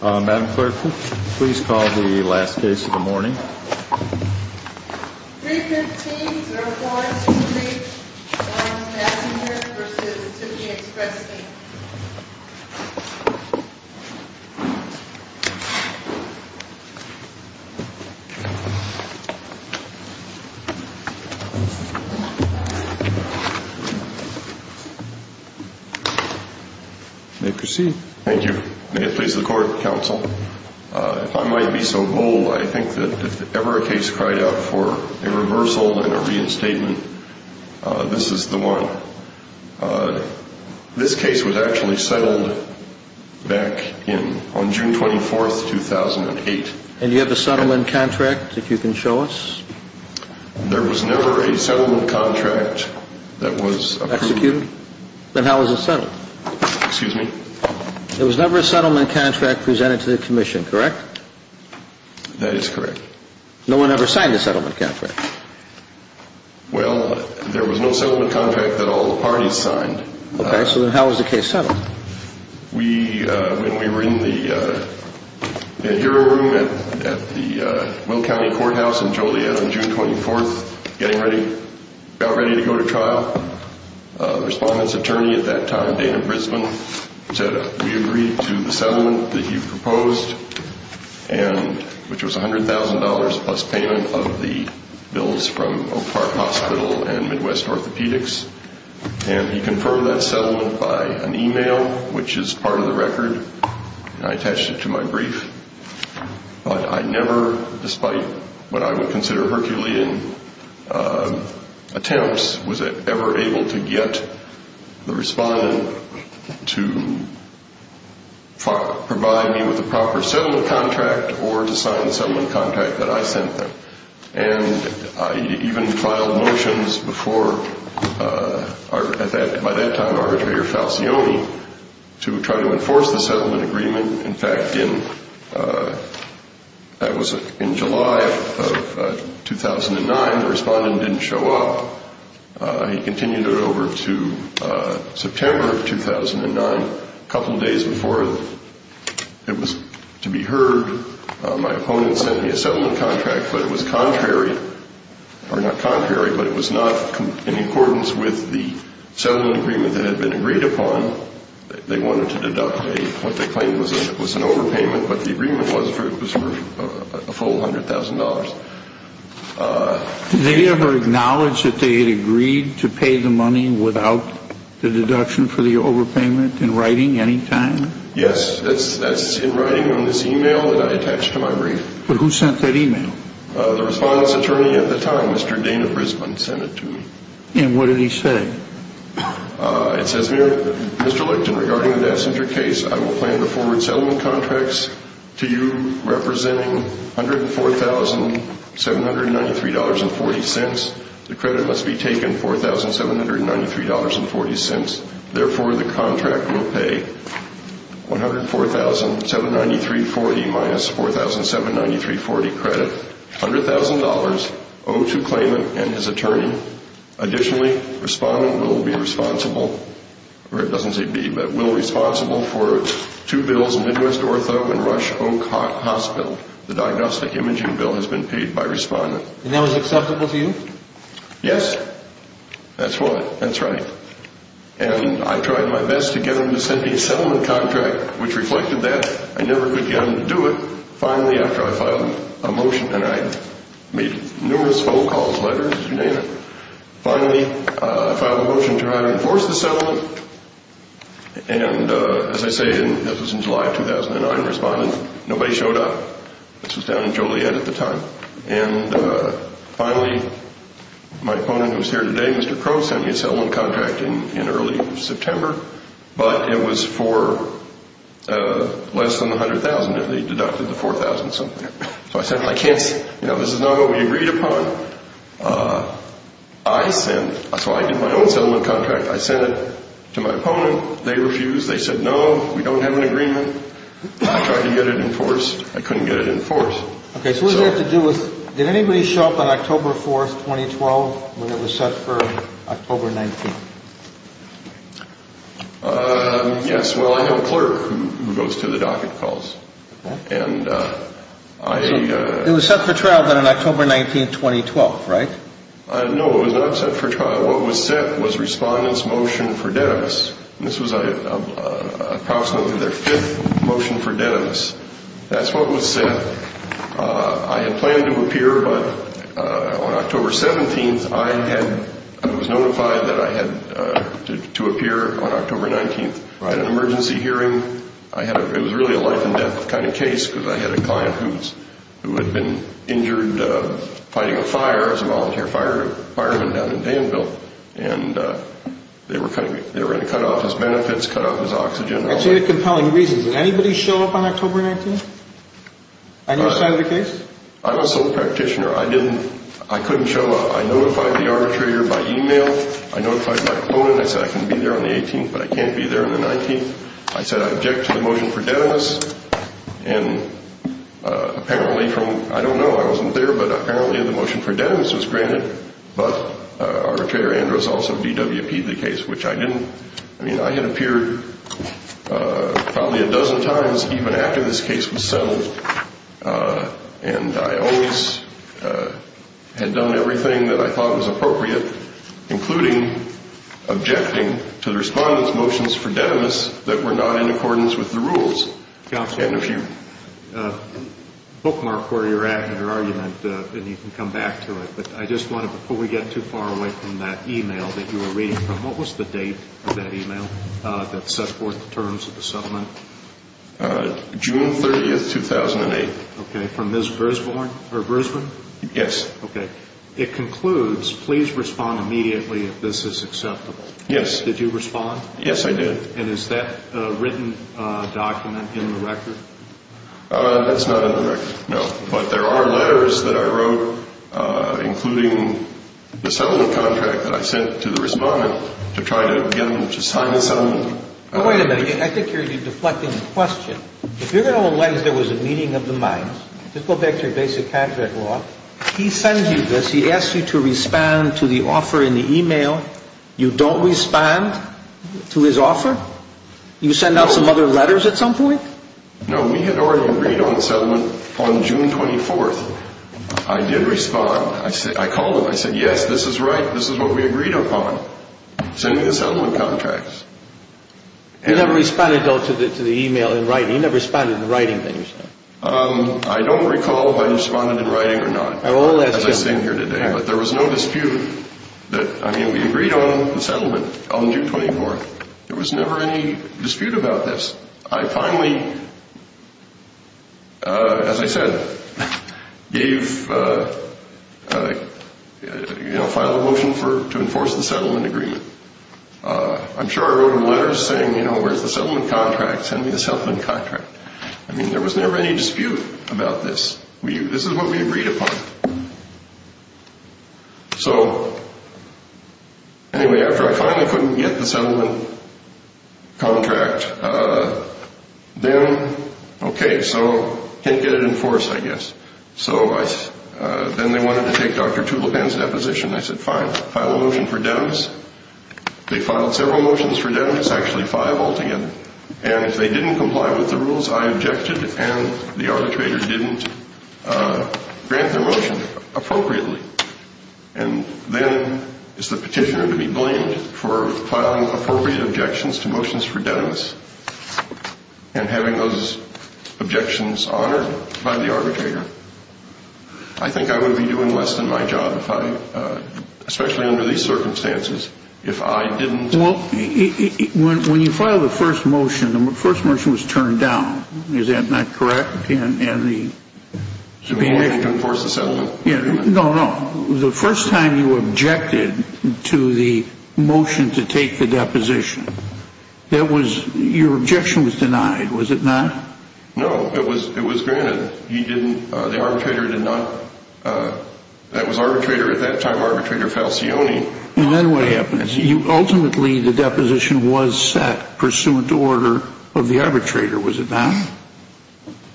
Madam Clerk, please call the last case of the morning. 315-0423, John Massinger v. Tookie Express Inc. You may proceed. Thank you. May it please the Court, Counsel? If I might be so bold, I think that if ever a case cried out for a reversal and a reinstatement, this is the one. This case was actually settled back on June 24th, 2008. And you have a settlement contract that you can show us? There was never a settlement contract that was... Executed? Then how was it settled? Excuse me? There was never a settlement contract presented to the Commission, correct? That is correct. No one ever signed a settlement contract? Well, there was no settlement contract that all the parties signed. Okay, so then how was the case settled? We, when we were in the hearing room at the Will County Courthouse in Joliet on June 24th, getting ready, about ready to go to trial, the respondent's attorney at that time, Dana Brisbane, said, We agree to the settlement that you proposed, which was $100,000 plus payment of the bills from Oak Park Hospital and Midwest Orthopedics. And he confirmed that settlement by an email, which is part of the record, and I attached it to my brief. But I never, despite what I would consider Herculean attempts, was ever able to get the respondent to provide me with a proper settlement contract or to sign the settlement contract that I sent them. And I even filed motions before, by that time, Arbitrator Falcioni to try to enforce the settlement agreement. In fact, that was in July of 2009. The respondent didn't show up. He continued it over to September of 2009, a couple days before it was to be heard. My opponent sent me a settlement contract, but it was contrary, or not contrary, but it was not in accordance with the settlement agreement that had been agreed upon. They wanted to deduct what they claimed was an overpayment, but the agreement was for a full $100,000. Did they ever acknowledge that they had agreed to pay the money without the deduction for the overpayment, in writing, any time? Yes, that's in writing on this email that I attached to my brief. But who sent that email? The respondent's attorney at the time, Mr. Dana Brisbane, sent it to me. And what did he say? It says here, Mr. Lichten, regarding the death center case, I will plan to forward settlement contracts to you representing $104,793.40. The credit must be taken, $4,793.40. Therefore, the contract will pay $104,793.40 minus $4,793.40 credit, $100,000 owed to claimant and his attorney. Additionally, respondent will be responsible, or it doesn't say be, but will be responsible for two bills, Midwest Ortho and Rush Oak Hospital. The diagnostic imaging bill has been paid by respondent. And that was acceptable to you? Yes, that's what, that's right. And I tried my best to get them to send me a settlement contract, which reflected that. I never could get them to do it. Finally, after I filed a motion, and I made numerous phone calls, letters, you name it. Finally, I filed a motion to reinforce the settlement. And as I say, this was in July of 2009, respondent, nobody showed up. This was down in Joliet at the time. And finally, my opponent who's here today, Mr. Crow, sent me a settlement contract in early September. But it was for less than $100,000 if they deducted the $4,000 something. So I said, I can't, you know, this is not what we agreed upon. I sent, so I did my own settlement contract. I sent it to my opponent. They refused. They said, no, we don't have an agreement. I couldn't get it enforced. Okay, so what did it have to do with, did anybody show up on October 4th, 2012, when it was set for October 19th? Yes, well, I have a clerk who goes to the docket calls. And I. It was set for trial then on October 19th, 2012, right? No, it was not set for trial. What was set was respondent's motion for Dennis. This was approximately their fifth motion for Dennis. That's what was set. I had planned to appear, but on October 17th, I had, I was notified that I had to appear on October 19th. I had an emergency hearing. I had, it was really a life and death kind of case because I had a client who had been injured fighting a fire. I was a volunteer fireman down in Danville. And they were going to cut off his benefits, cut off his oxygen. That's a really compelling reason. Did anybody show up on October 19th? On your side of the case? I'm a sole practitioner. I didn't, I couldn't show up. I notified the arbitrator by email. I notified Mike Bowen. I said I can be there on the 18th, but I can't be there on the 19th. I said I object to the motion for Dennis. And apparently from, I don't know, I wasn't there, but apparently the motion for Dennis was granted. But arbitrator Andrews also DWP'd the case, which I didn't. I mean, I had appeared probably a dozen times even after this case was settled. And I always had done everything that I thought was appropriate, including objecting to the respondent's motions for Dennis that were not in accordance with the rules. Counselor, bookmark where you're at in your argument, and you can come back to it. But I just wanted, before we get too far away from that email that you were reading from, what was the date of that email that set forth the terms of the settlement? June 30th, 2008. Okay. From Ms. Brisbane? Yes. Okay. It concludes, please respond immediately if this is acceptable. Yes. Did you respond? Yes, I did. And is that written document in the record? That's not in the record, no. But there are letters that I wrote, including the settlement contract that I sent to the respondent to try to get him to sign the settlement. Wait a minute. I think you're deflecting the question. If you're going to allege there was a meeting of the minds, just go back to your basic contract law. He sends you this. He asks you to respond to the offer in the email. You don't respond to his offer? You send out some other letters at some point? No, we had already agreed on the settlement on June 24th. I did respond. I called him. I said, yes, this is right. This is what we agreed upon. Send me the settlement contracts. You never responded, though, to the email in writing. You never responded in the writing that you sent. I don't recall if I responded in writing or not, as I stand here today. But there was no dispute. I mean, we agreed on the settlement on June 24th. There was never any dispute about this. I finally, as I said, gave, you know, filed a motion to enforce the settlement agreement. I'm sure I wrote him letters saying, you know, where's the settlement contract? Send me the settlement contract. I mean, there was never any dispute about this. This is what we agreed upon. So, anyway, after I finally couldn't get the settlement contract, then, okay, so can't get it enforced, I guess. So then they wanted to take Dr. Tulipan's deposition. I said, fine, file a motion for damages. They filed several motions for damages, actually five altogether. And if they didn't comply with the rules, I objected, and the arbitrator didn't grant their motion appropriately. And then it's the petitioner to be blamed for filing appropriate objections to motions for damages and having those objections honored by the arbitrator. I think I would be doing less than my job, especially under these circumstances, if I didn't. Well, when you filed the first motion, the first motion was turned down. Is that not correct? And the subpoena to enforce the settlement agreement. No, no. The first time you objected to the motion to take the deposition, that was, your objection was denied, was it not? No, it was granted. He didn't, the arbitrator did not, that was arbitrator at that time, arbitrator Falcioni. And then what happens? Ultimately, the deposition was set pursuant to order of the arbitrator, was it not?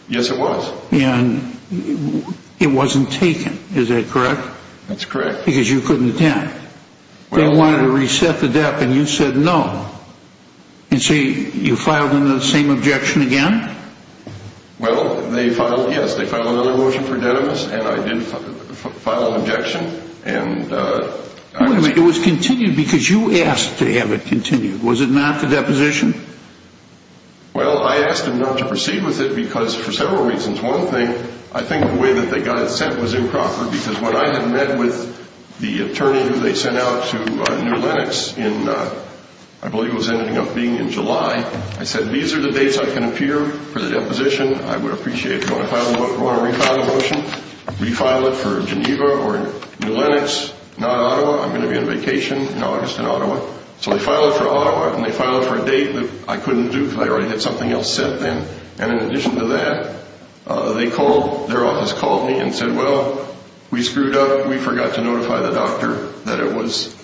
Yes, it was. And it wasn't taken, is that correct? That's correct. Because you couldn't attend. They wanted to reset the debt, and you said no. And so you filed the same objection again? Wait a minute. It was continued because you asked to have it continued. Was it not the deposition? Well, I asked them not to proceed with it because for several reasons. One thing, I think the way that they got it sent was improper because when I had met with the attorney who they sent out to New Lenox in, I believe it was ending up being in July, I said these are the dates I can appear for the deposition. I would appreciate it. If you want to refile the motion, refile it for Geneva or New Lenox, not Ottawa. I'm going to be on vacation in August in Ottawa. So they filed it for Ottawa, and they filed it for a date that I couldn't do because I already had something else set then. And in addition to that, they called, their office called me and said, well, we screwed up. We forgot to notify the doctor that it was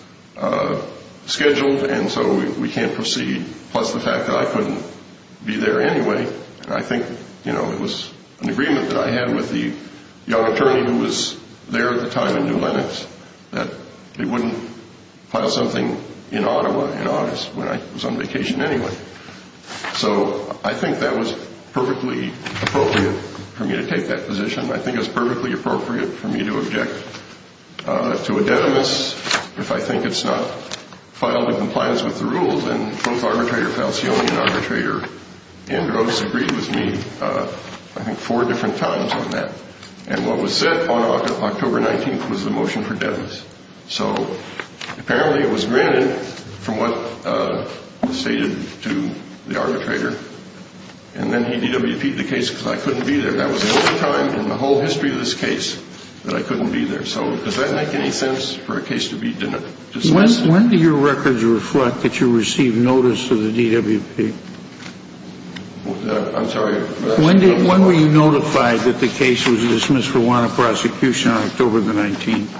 scheduled, and so we can't proceed, plus the fact that I couldn't be there anyway. And I think, you know, it was an agreement that I had with the young attorney who was there at the time in New Lenox that they wouldn't file something in Ottawa in August when I was on vacation anyway. So I think that was perfectly appropriate for me to take that position. I think it was perfectly appropriate for me to object to a deadness if I think it's not filed in compliance with the rules. And both arbitrator Falcioni and arbitrator Andros agreed with me I think four different times on that. And what was said on October 19th was the motion for deadness. So apparently it was granted from what was stated to the arbitrator. And then he DWP'd the case because I couldn't be there. That was the only time in the whole history of this case that I couldn't be there. So does that make any sense for a case to be dismissed? When do your records reflect that you received notice of the DWP? I'm sorry. When were you notified that the case was dismissed for warrant of prosecution on October the 19th?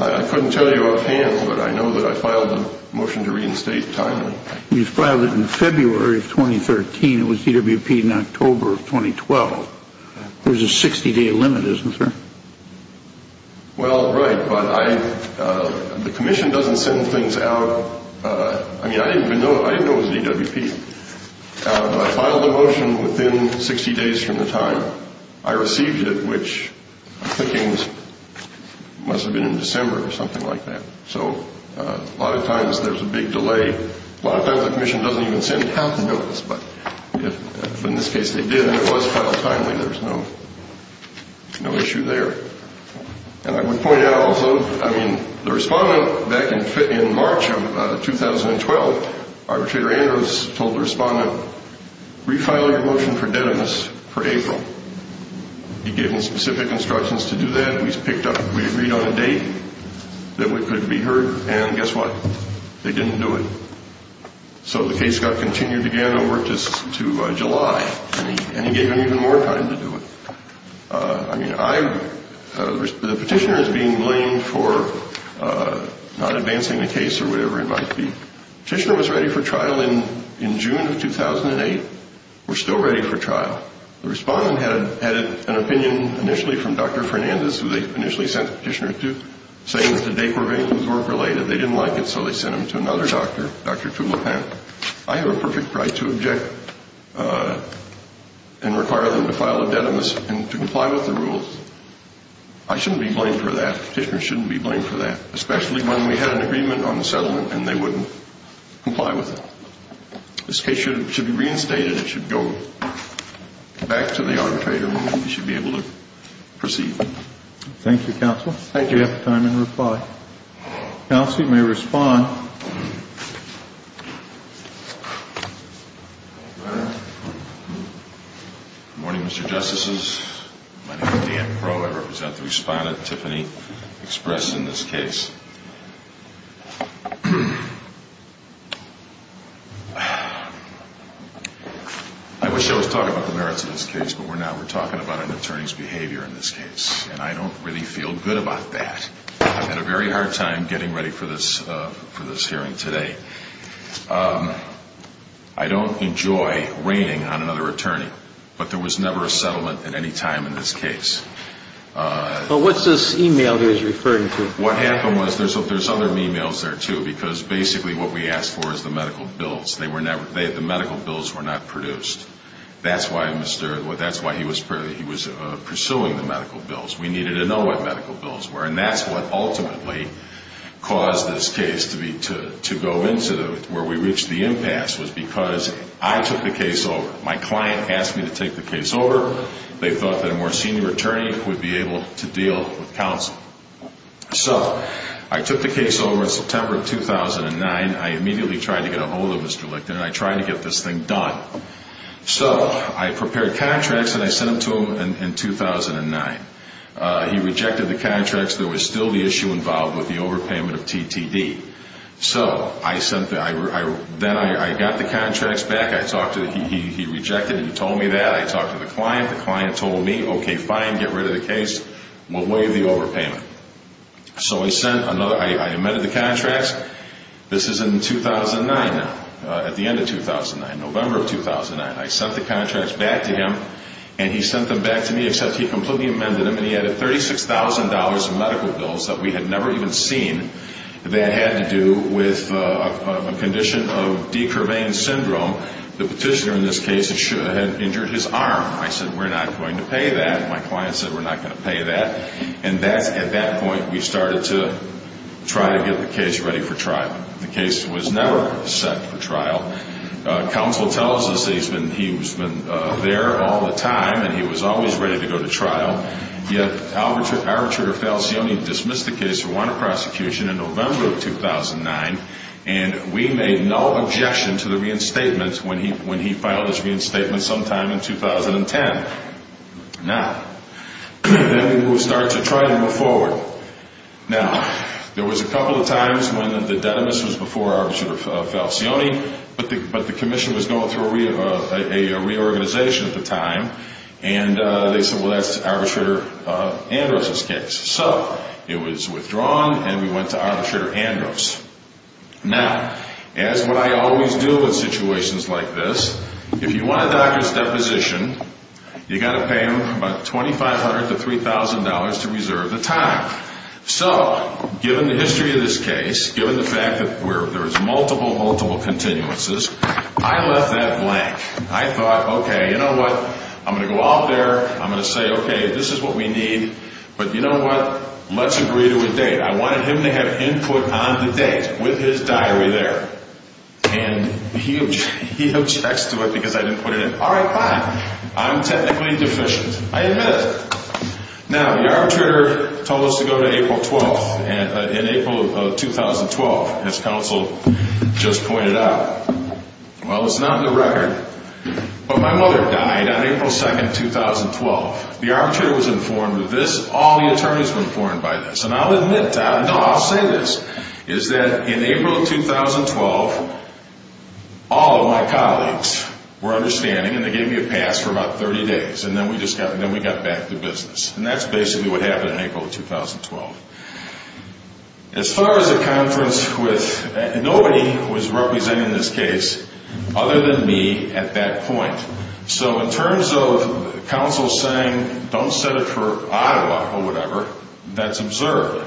I couldn't tell you up hand, but I know that I filed a motion to reinstate timely. Well, you filed it in February of 2013. It was DWP'd in October of 2012. There's a 60-day limit, isn't there? Well, right, but the commission doesn't send things out. I mean, I didn't know it was DWP'd. I filed the motion within 60 days from the time I received it, which I'm thinking must have been in December or something like that. So a lot of times there's a big delay. A lot of times the commission doesn't even send out the notice. But in this case they did, and it was filed timely. There was no issue there. And I would point out also, I mean, the respondent back in March of 2012, Arbitrator Andrews told the respondent, refile your motion for deadness for April. He gave him specific instructions to do that. We agreed on a date that it could be heard, and guess what? They didn't do it. So the case got continued again over to July, and he gave him even more time to do it. I mean, the petitioner is being blamed for not advancing the case or whatever it might be. The petitioner was ready for trial in June of 2008. We're still ready for trial. The respondent had an opinion initially from Dr. Fernandez, who they initially sent the petitioner to, saying that the date provisions weren't related. They didn't like it, so they sent him to another doctor, Dr. Tulopan. I have a perfect right to object and require them to file a deadness and to comply with the rules. I shouldn't be blamed for that. The petitioner shouldn't be blamed for that, especially when we had an agreement on the settlement and they wouldn't comply with it. This case should be reinstated. It should go back to the arbitrator. He should be able to proceed. Thank you, counsel. Thank you. You have time to reply. Counsel, you may respond. Good morning, Mr. Justices. My name is Dan Crowe. I represent the respondent, Tiffany Express, in this case. I wish I was talking about the merits of this case, but we're not. We're talking about an attorney's behavior in this case, and I don't really feel good about that. I've had a very hard time getting ready for this hearing today. I don't enjoy raining on another attorney, but there was never a settlement at any time in this case. But what's this e-mail he was referring to? What happened was there's other e-mails there, too, because basically what we asked for is the medical bills. The medical bills were not produced. That's why he was pursuing the medical bills. We needed to know what medical bills were, and that's what ultimately caused this case to go into where we reached the impasse was because I took the case over. My client asked me to take the case over. They thought that a more senior attorney would be able to deal with counsel. So I took the case over in September of 2009. I immediately tried to get a hold of Mr. Lichten, and I tried to get this thing done. So I prepared contracts, and I sent them to him in 2009. He rejected the contracts. There was still the issue involved with the overpayment of TTD. So then I got the contracts back. He rejected them. He told me that. I talked to the client. The client told me, okay, fine, get rid of the case. We'll waive the overpayment. So I sent another. I amended the contracts. This is in 2009 now, at the end of 2009, November of 2009. I sent the contracts back to him, and he sent them back to me, except he completely amended them, and he added $36,000 in medical bills that we had never even seen. That had to do with a condition of decurveying syndrome. The petitioner in this case had injured his arm. I said, we're not going to pay that. My client said, we're not going to pay that. And at that point, we started to try to get the case ready for trial. The case was never set for trial. Counsel tells us that he's been there all the time, and he was always ready to go to trial. Yet, arbitrator Falcioni dismissed the case for wanted prosecution in November of 2009, and we made no objection to the reinstatement when he filed his reinstatement sometime in 2010. Now, then we started to try to move forward. Now, there was a couple of times when the denimus was before arbitrator Falcioni, but the commission was going through a reorganization at the time, and they said, well, that's arbitrator Andros' case. So it was withdrawn, and we went to arbitrator Andros. Now, as what I always do in situations like this, if you want a doctor's deposition, you've got to pay him about $2,500 to $3,000 to reserve the time. So given the history of this case, given the fact that there was multiple, multiple continuances, I left that blank. I thought, okay, you know what, I'm going to go out there, I'm going to say, okay, this is what we need, but you know what, let's agree to a date. I wanted him to have input on the date with his diary there. And he objects to it because I didn't put it in. All right, fine. I'm technically deficient. I admit it. Now, the arbitrator told us to go to April 12th, in April of 2012, as counsel just pointed out. Well, it's not in the record. But my mother died on April 2nd, 2012. The arbitrator was informed of this. All the attorneys were informed by this. And I'll admit to that. No, I'll say this, is that in April of 2012, all of my colleagues were understanding, and they gave me a pass for about 30 days. And then we got back to business. And that's basically what happened in April of 2012. As far as a conference with, nobody was representing this case other than me at that point. So in terms of counsel saying, don't set it for Ottawa or whatever, that's absurd.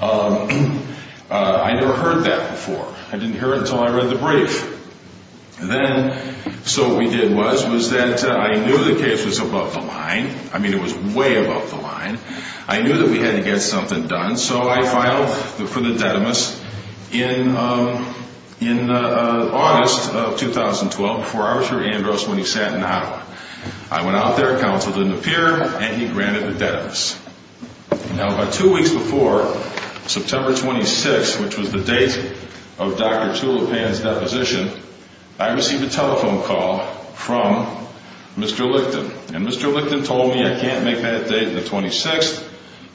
I never heard that before. I didn't hear it until I read the brief. Then, so what we did was, was that I knew the case was above the line. I mean, it was way above the line. I knew that we had to get something done. And so I filed for the dedimus in August of 2012 before Arbiter Andros when he sat in Ottawa. I went out there. Counsel didn't appear. And he granted the dedimus. Now, about two weeks before, September 26th, which was the date of Dr. Tulipan's deposition, I received a telephone call from Mr. Lichten. And Mr. Lichten told me, I can't make that date the 26th.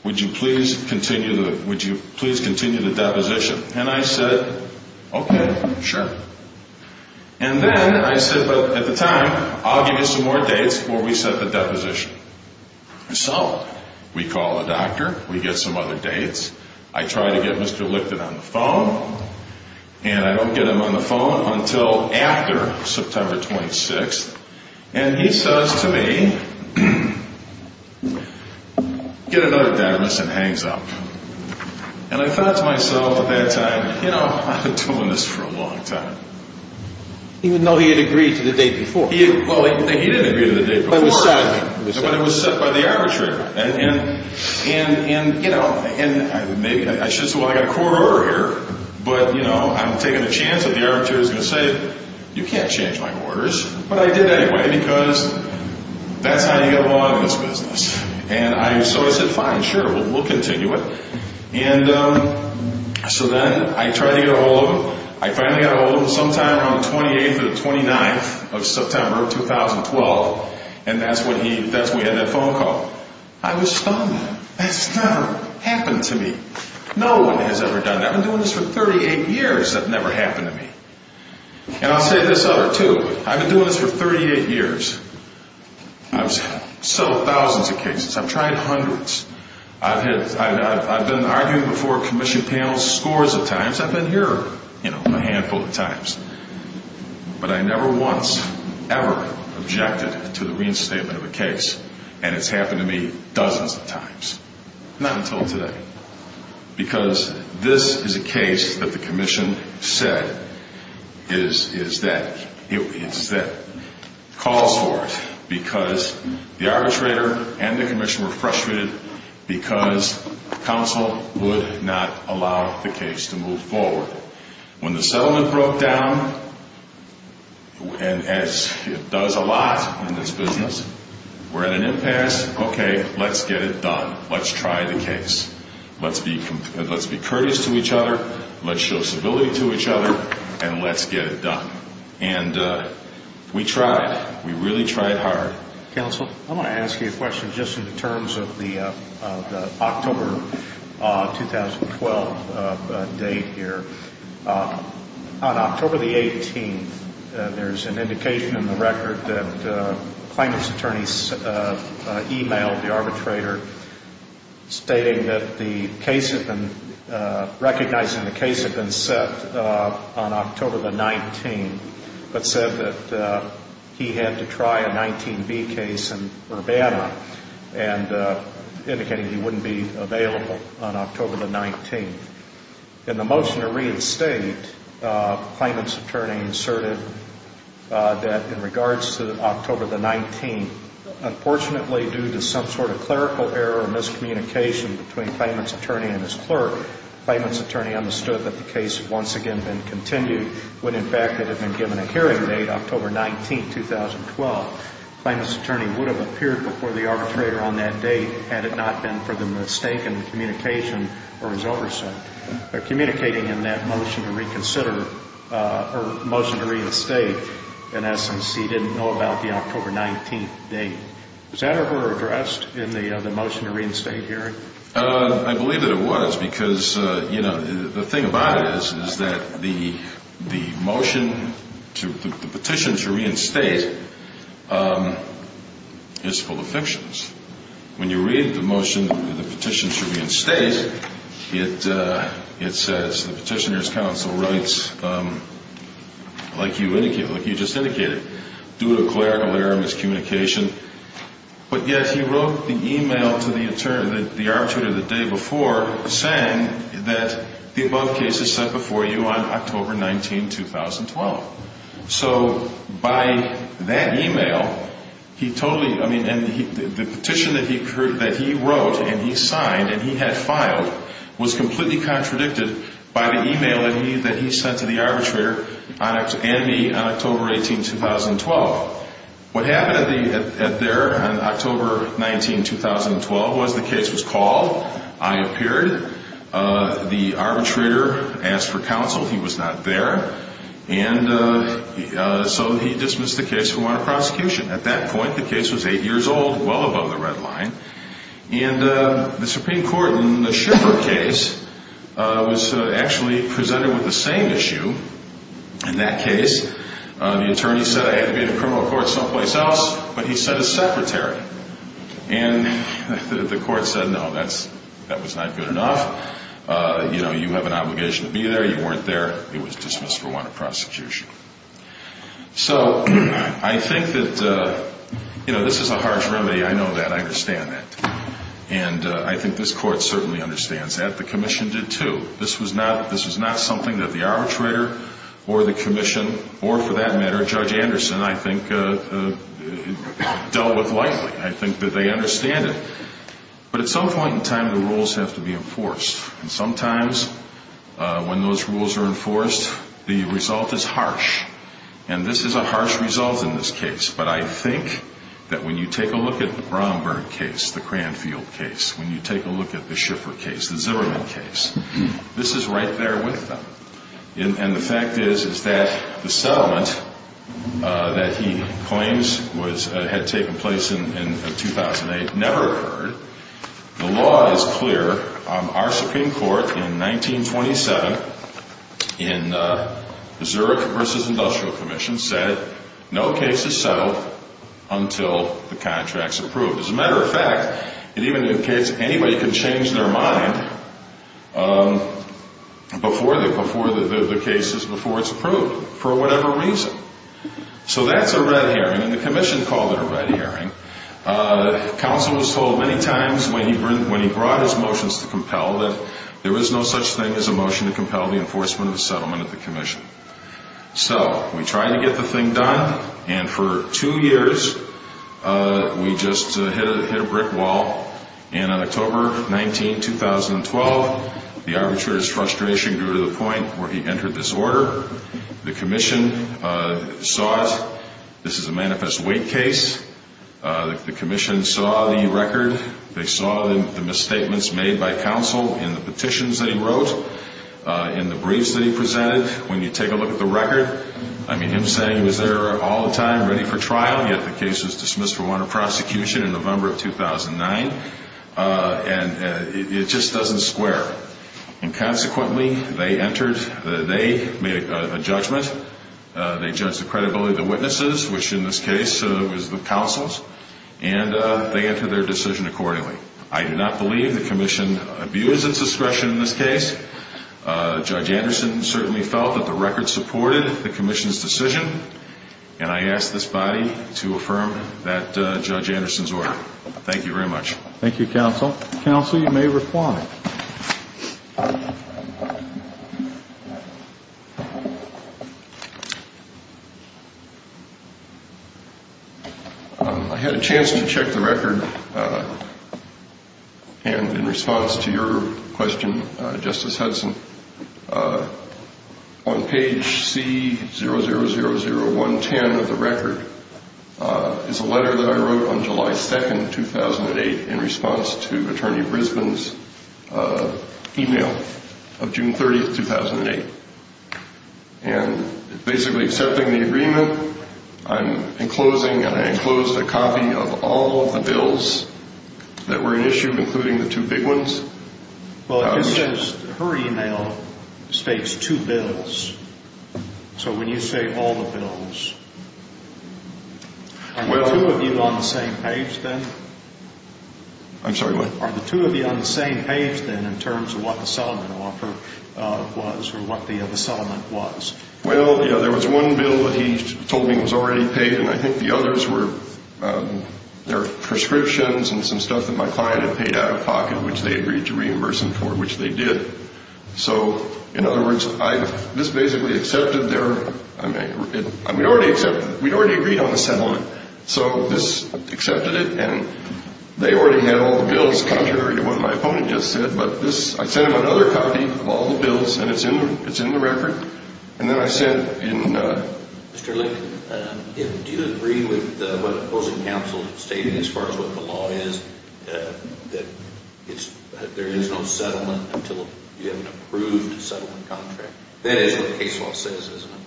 Would you please continue the deposition? And I said, okay, sure. And then I said, but at the time, I'll give you some more dates before we set the deposition. So we call the doctor. We get some other dates. I try to get Mr. Lichten on the phone. And I don't get him on the phone until after September 26th. And he says to me, get another dedimus and hangs up. And I thought to myself at that time, you know, I've been doing this for a long time. Even though he had agreed to the date before? Well, he didn't agree to the date before. But it was set. But it was set by the arbitrator. And, you know, maybe I should say, well, I've got a court order here. But, you know, I'm taking the chance that the arbitrator is going to say, you can't change my orders. But I did anyway because that's how you get along in this business. And so I said, fine, sure, we'll continue it. And so then I tried to get a hold of him. I finally got a hold of him sometime around the 28th or the 29th of September of 2012. And that's when we had that phone call. I was stunned. That's never happened to me. No one has ever done that. I've been doing this for 38 years. That never happened to me. And I'll say this other, too. I've been doing this for 38 years. I've settled thousands of cases. I've tried hundreds. I've been arguing before commission panels scores of times. I've been here, you know, a handful of times. But I never once, ever objected to the reinstatement of a case. And it's happened to me dozens of times. Not until today. Because this is a case that the commission said is that. It's that. Calls for it because the arbitrator and the commission were frustrated because counsel would not allow the case to move forward. When the settlement broke down, and as it does a lot in this business, we're at an impasse. Okay, let's get it done. Let's try the case. Let's be courteous to each other. Let's show civility to each other. And let's get it done. And we tried. We really tried hard. Counsel, I want to ask you a question just in terms of the October 2012 date here. On October the 18th, there's an indication in the record that stating that the case had been, recognizing the case had been set on October the 19th, but said that he had to try a 19B case in Urbana, and indicating he wouldn't be available on October the 19th. In the motion to reinstate, the claimant's attorney inserted that in regards to October the 19th, Unfortunately, due to some sort of clerical error or miscommunication between the claimant's attorney and his clerk, the claimant's attorney understood that the case had once again been continued when, in fact, it had been given a hearing date, October 19, 2012. The claimant's attorney would have appeared before the arbitrator on that date had it not been for the mistaken communication or his oversight. Communicating in that motion to reconsider, or motion to reinstate, in essence, he didn't know about the October 19th date. Was that ever addressed in the motion to reinstate hearing? I believe that it was, because the thing about it is that the motion, the petition to reinstate, is full of fictions. When you read the motion, the petition to reinstate, it says the petitioner's counsel writes, like you just indicated, due to clerical error or miscommunication, but yet he wrote the email to the arbitrator the day before saying that the above case is set before you on October 19, 2012. So by that email, he totally, I mean, the petition that he wrote and he signed and he had filed was completely contradicted by the email that he sent to the arbitrator and me on October 18, 2012. What happened there on October 19, 2012 was the case was called, I appeared, the arbitrator asked for counsel, he was not there, and so he dismissed the case and went to prosecution. At that point, the case was 8 years old, well above the red line, and the Supreme Court in the Schiffer case was actually presented with the same issue in that case. The attorney said I had to be in a criminal court someplace else, but he said a secretary. And the court said, no, that was not good enough. You have an obligation to be there. You weren't there. It was dismissed for want of prosecution. So I think that this is a harsh remedy. I know that. I understand that. And I think this court certainly understands that. The commission did, too. This was not something that the arbitrator or the commission or, for that matter, Judge Anderson, I think, dealt with lightly. I think that they understand it. But at some point in time, the rules have to be enforced. And sometimes when those rules are enforced, the result is harsh. And this is a harsh result in this case. But I think that when you take a look at the Bromberg case, the Cranfield case, when you take a look at the Schiffer case, the Zimmerman case, this is right there with them. And the fact is that the settlement that he claims had taken place in 2008 never occurred. The law is clear. Our Supreme Court, in 1927, in the Zurich v. Industrial Commission, said no case is settled until the contract is approved. As a matter of fact, it even indicates anybody can change their mind before the case is approved for whatever reason. So that's a red herring, and the commission called it a red herring. Counsel was told many times when he brought his motions to compel that there was no such thing as a motion to compel the enforcement of a settlement at the commission. So we tried to get the thing done, and for two years we just hit a brick wall. And on October 19, 2012, the arbitrator's frustration grew to the point where he entered this order. The commission saw it. This is a manifest weight case. The commission saw the record. They saw the misstatements made by counsel in the petitions that he wrote, in the briefs that he presented. When you take a look at the record, I mean, him saying he was there all the time, ready for trial, yet the case was dismissed for warrant of prosecution in November of 2009. And it just doesn't square. And consequently, they made a judgment. They judged the credibility of the witnesses, which in this case was the counsel's, and they entered their decision accordingly. I do not believe the commission abused its discretion in this case. Judge Anderson certainly felt that the record supported the commission's decision, and I ask this body to affirm that Judge Anderson's order. Thank you very much. Thank you, counsel. Counsel, you may respond. I had a chance to check the record, and in response to your question, Justice Hudson, on page C000110 of the record is a letter that I wrote on July 2nd, 2008, in response to Attorney Brisbane's email of June 30th, 2008. And basically accepting the agreement, I'm enclosing, I enclosed a copy of all of the bills that were in issue, including the two big ones. Well, it says her email states two bills. So when you say all the bills, are the two of you on the same page then? I'm sorry, what? Are the two of you on the same page then in terms of what the settlement offer was or what the settlement was? Well, you know, there was one bill that he told me was already paid, and I think the others were their prescriptions and some stuff that my client had paid out of pocket, which they agreed to reimburse them for, which they did. So, in other words, this basically accepted their, I mean, we already accepted, we'd already agreed on the settlement. So this accepted it, and they already had all the bills, contrary to what my opponent just said. But this, I sent him another copy of all the bills, and it's in the record. And then I sent in... Mr. Lincoln, do you agree with what opposing counsel stated as far as what the law is, that there is no settlement until you have an approved settlement contract? That is what the case law says, isn't it?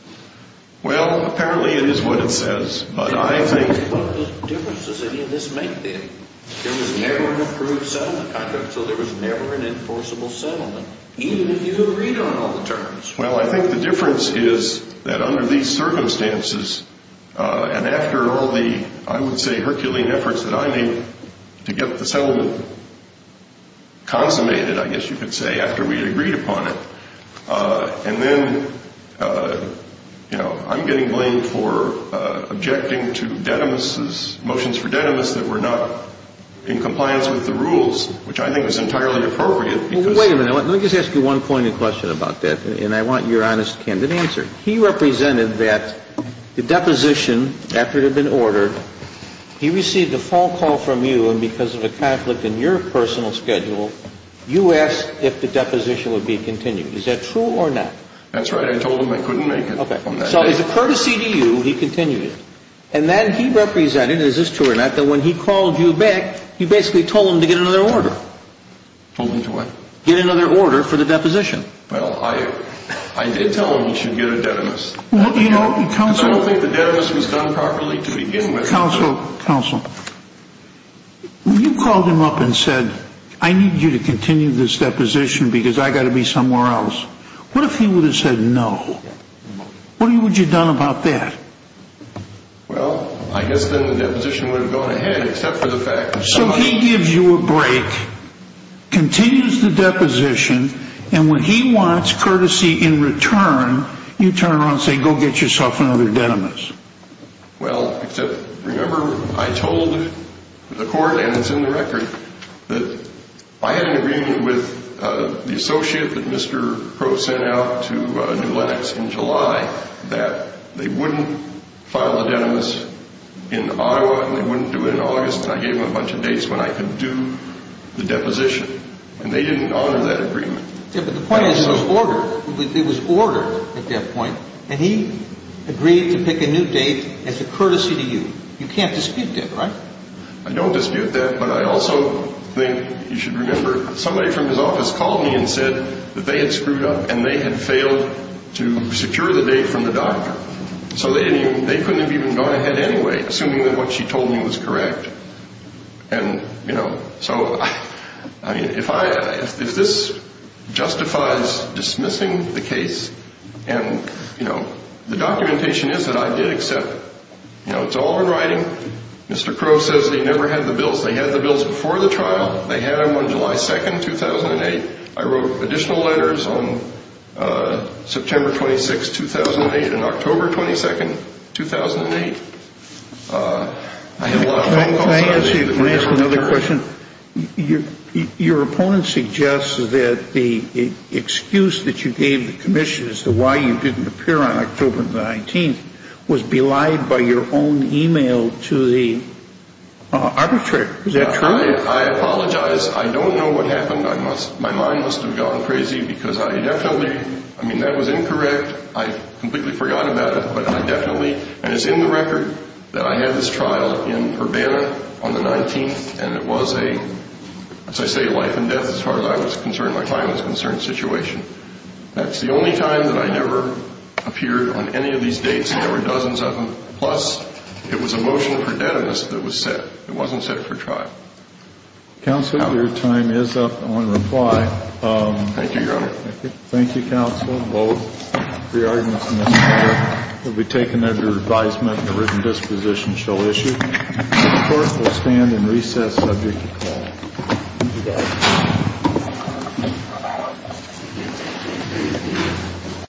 Well, apparently it is what it says, but I think... What are the differences any of this make then? There was never an approved settlement contract, so there was never an enforceable settlement, even if you agreed on all the terms. Well, I think the difference is that under these circumstances, and after all the, I would say, herculean efforts that I made to get the settlement consummated, I guess you could say, after we agreed upon it, and then, you know, I'm getting blamed for objecting to Denimis's motions for Denimis that were not in compliance with the rules, which I think is entirely appropriate because... Well, wait a minute. Let me just ask you one poignant question about that, and I want your honest, candid answer. He represented that the deposition, after it had been ordered, he received a phone call from you, and because of a conflict in your personal schedule, you asked if the deposition would be continued. Is that true or not? That's right. I told him I couldn't make it on that day. Okay. So as a courtesy to you, he continued it. And then he represented, is this true or not, that when he called you back, you basically told him to get another order. Told him to what? Get another order for the deposition. Well, I did tell him he should get a Denimis. Well, you know, counsel... Because I don't think the Denimis was done properly to begin with. Counsel, counsel, you called him up and said, I need you to continue this deposition because I've got to be somewhere else. What if he would have said no? What would you have done about that? Well, I guess then the deposition would have gone ahead, except for the fact that someone... So he gives you a break, continues the deposition, and when he wants courtesy in return, you turn around and say, go get yourself another Denimis. Well, except, remember, I told the court, and it's in the record, that I had an agreement with the associate that Mr. Crow sent out to New Lenox in July that they wouldn't file the Denimis in Ottawa and they wouldn't do it in August, and I gave them a bunch of dates when I could do the deposition. And they didn't honor that agreement. Yeah, but the point is it was ordered. It was ordered at that point. And he agreed to pick a new date as a courtesy to you. You can't dispute that, right? I don't dispute that, but I also think you should remember, somebody from his office called me and said that they had screwed up and they had failed to secure the date from the doctor. So they couldn't have even gone ahead anyway, assuming that what she told me was correct. And, you know, so, I mean, if this justifies dismissing the case, and, you know, the documentation is that I did accept, you know, it's all in writing. Mr. Crow says that he never had the bills. They had the bills before the trial. They had them on July 2, 2008. I wrote additional letters on September 26, 2008 and October 22, 2008. Can I ask you another question? Your opponent suggests that the excuse that you gave the commission as to why you didn't appear on October 19th was belied by your own e-mail to the arbitrator. Is that true? I apologize. I don't know what happened. My mind must have gone crazy because I definitely, I mean, that was incorrect. I completely forgot about it. But I definitely, and it's in the record that I had this trial in Urbana on the 19th, and it was a, as I say, life and death as far as I was concerned. My time was concerned situation. That's the only time that I never appeared on any of these dates. There were dozens of them. Plus, it was a motion for deadness that was set. It wasn't set for trial. Counselor, your time is up. I want to reply. Thank you, Your Honor. Thank you, Counsel. The arguments in this case will be taken under advisement and a written disposition shall issue. The court will stand and recess subject to call. Thank you, guys.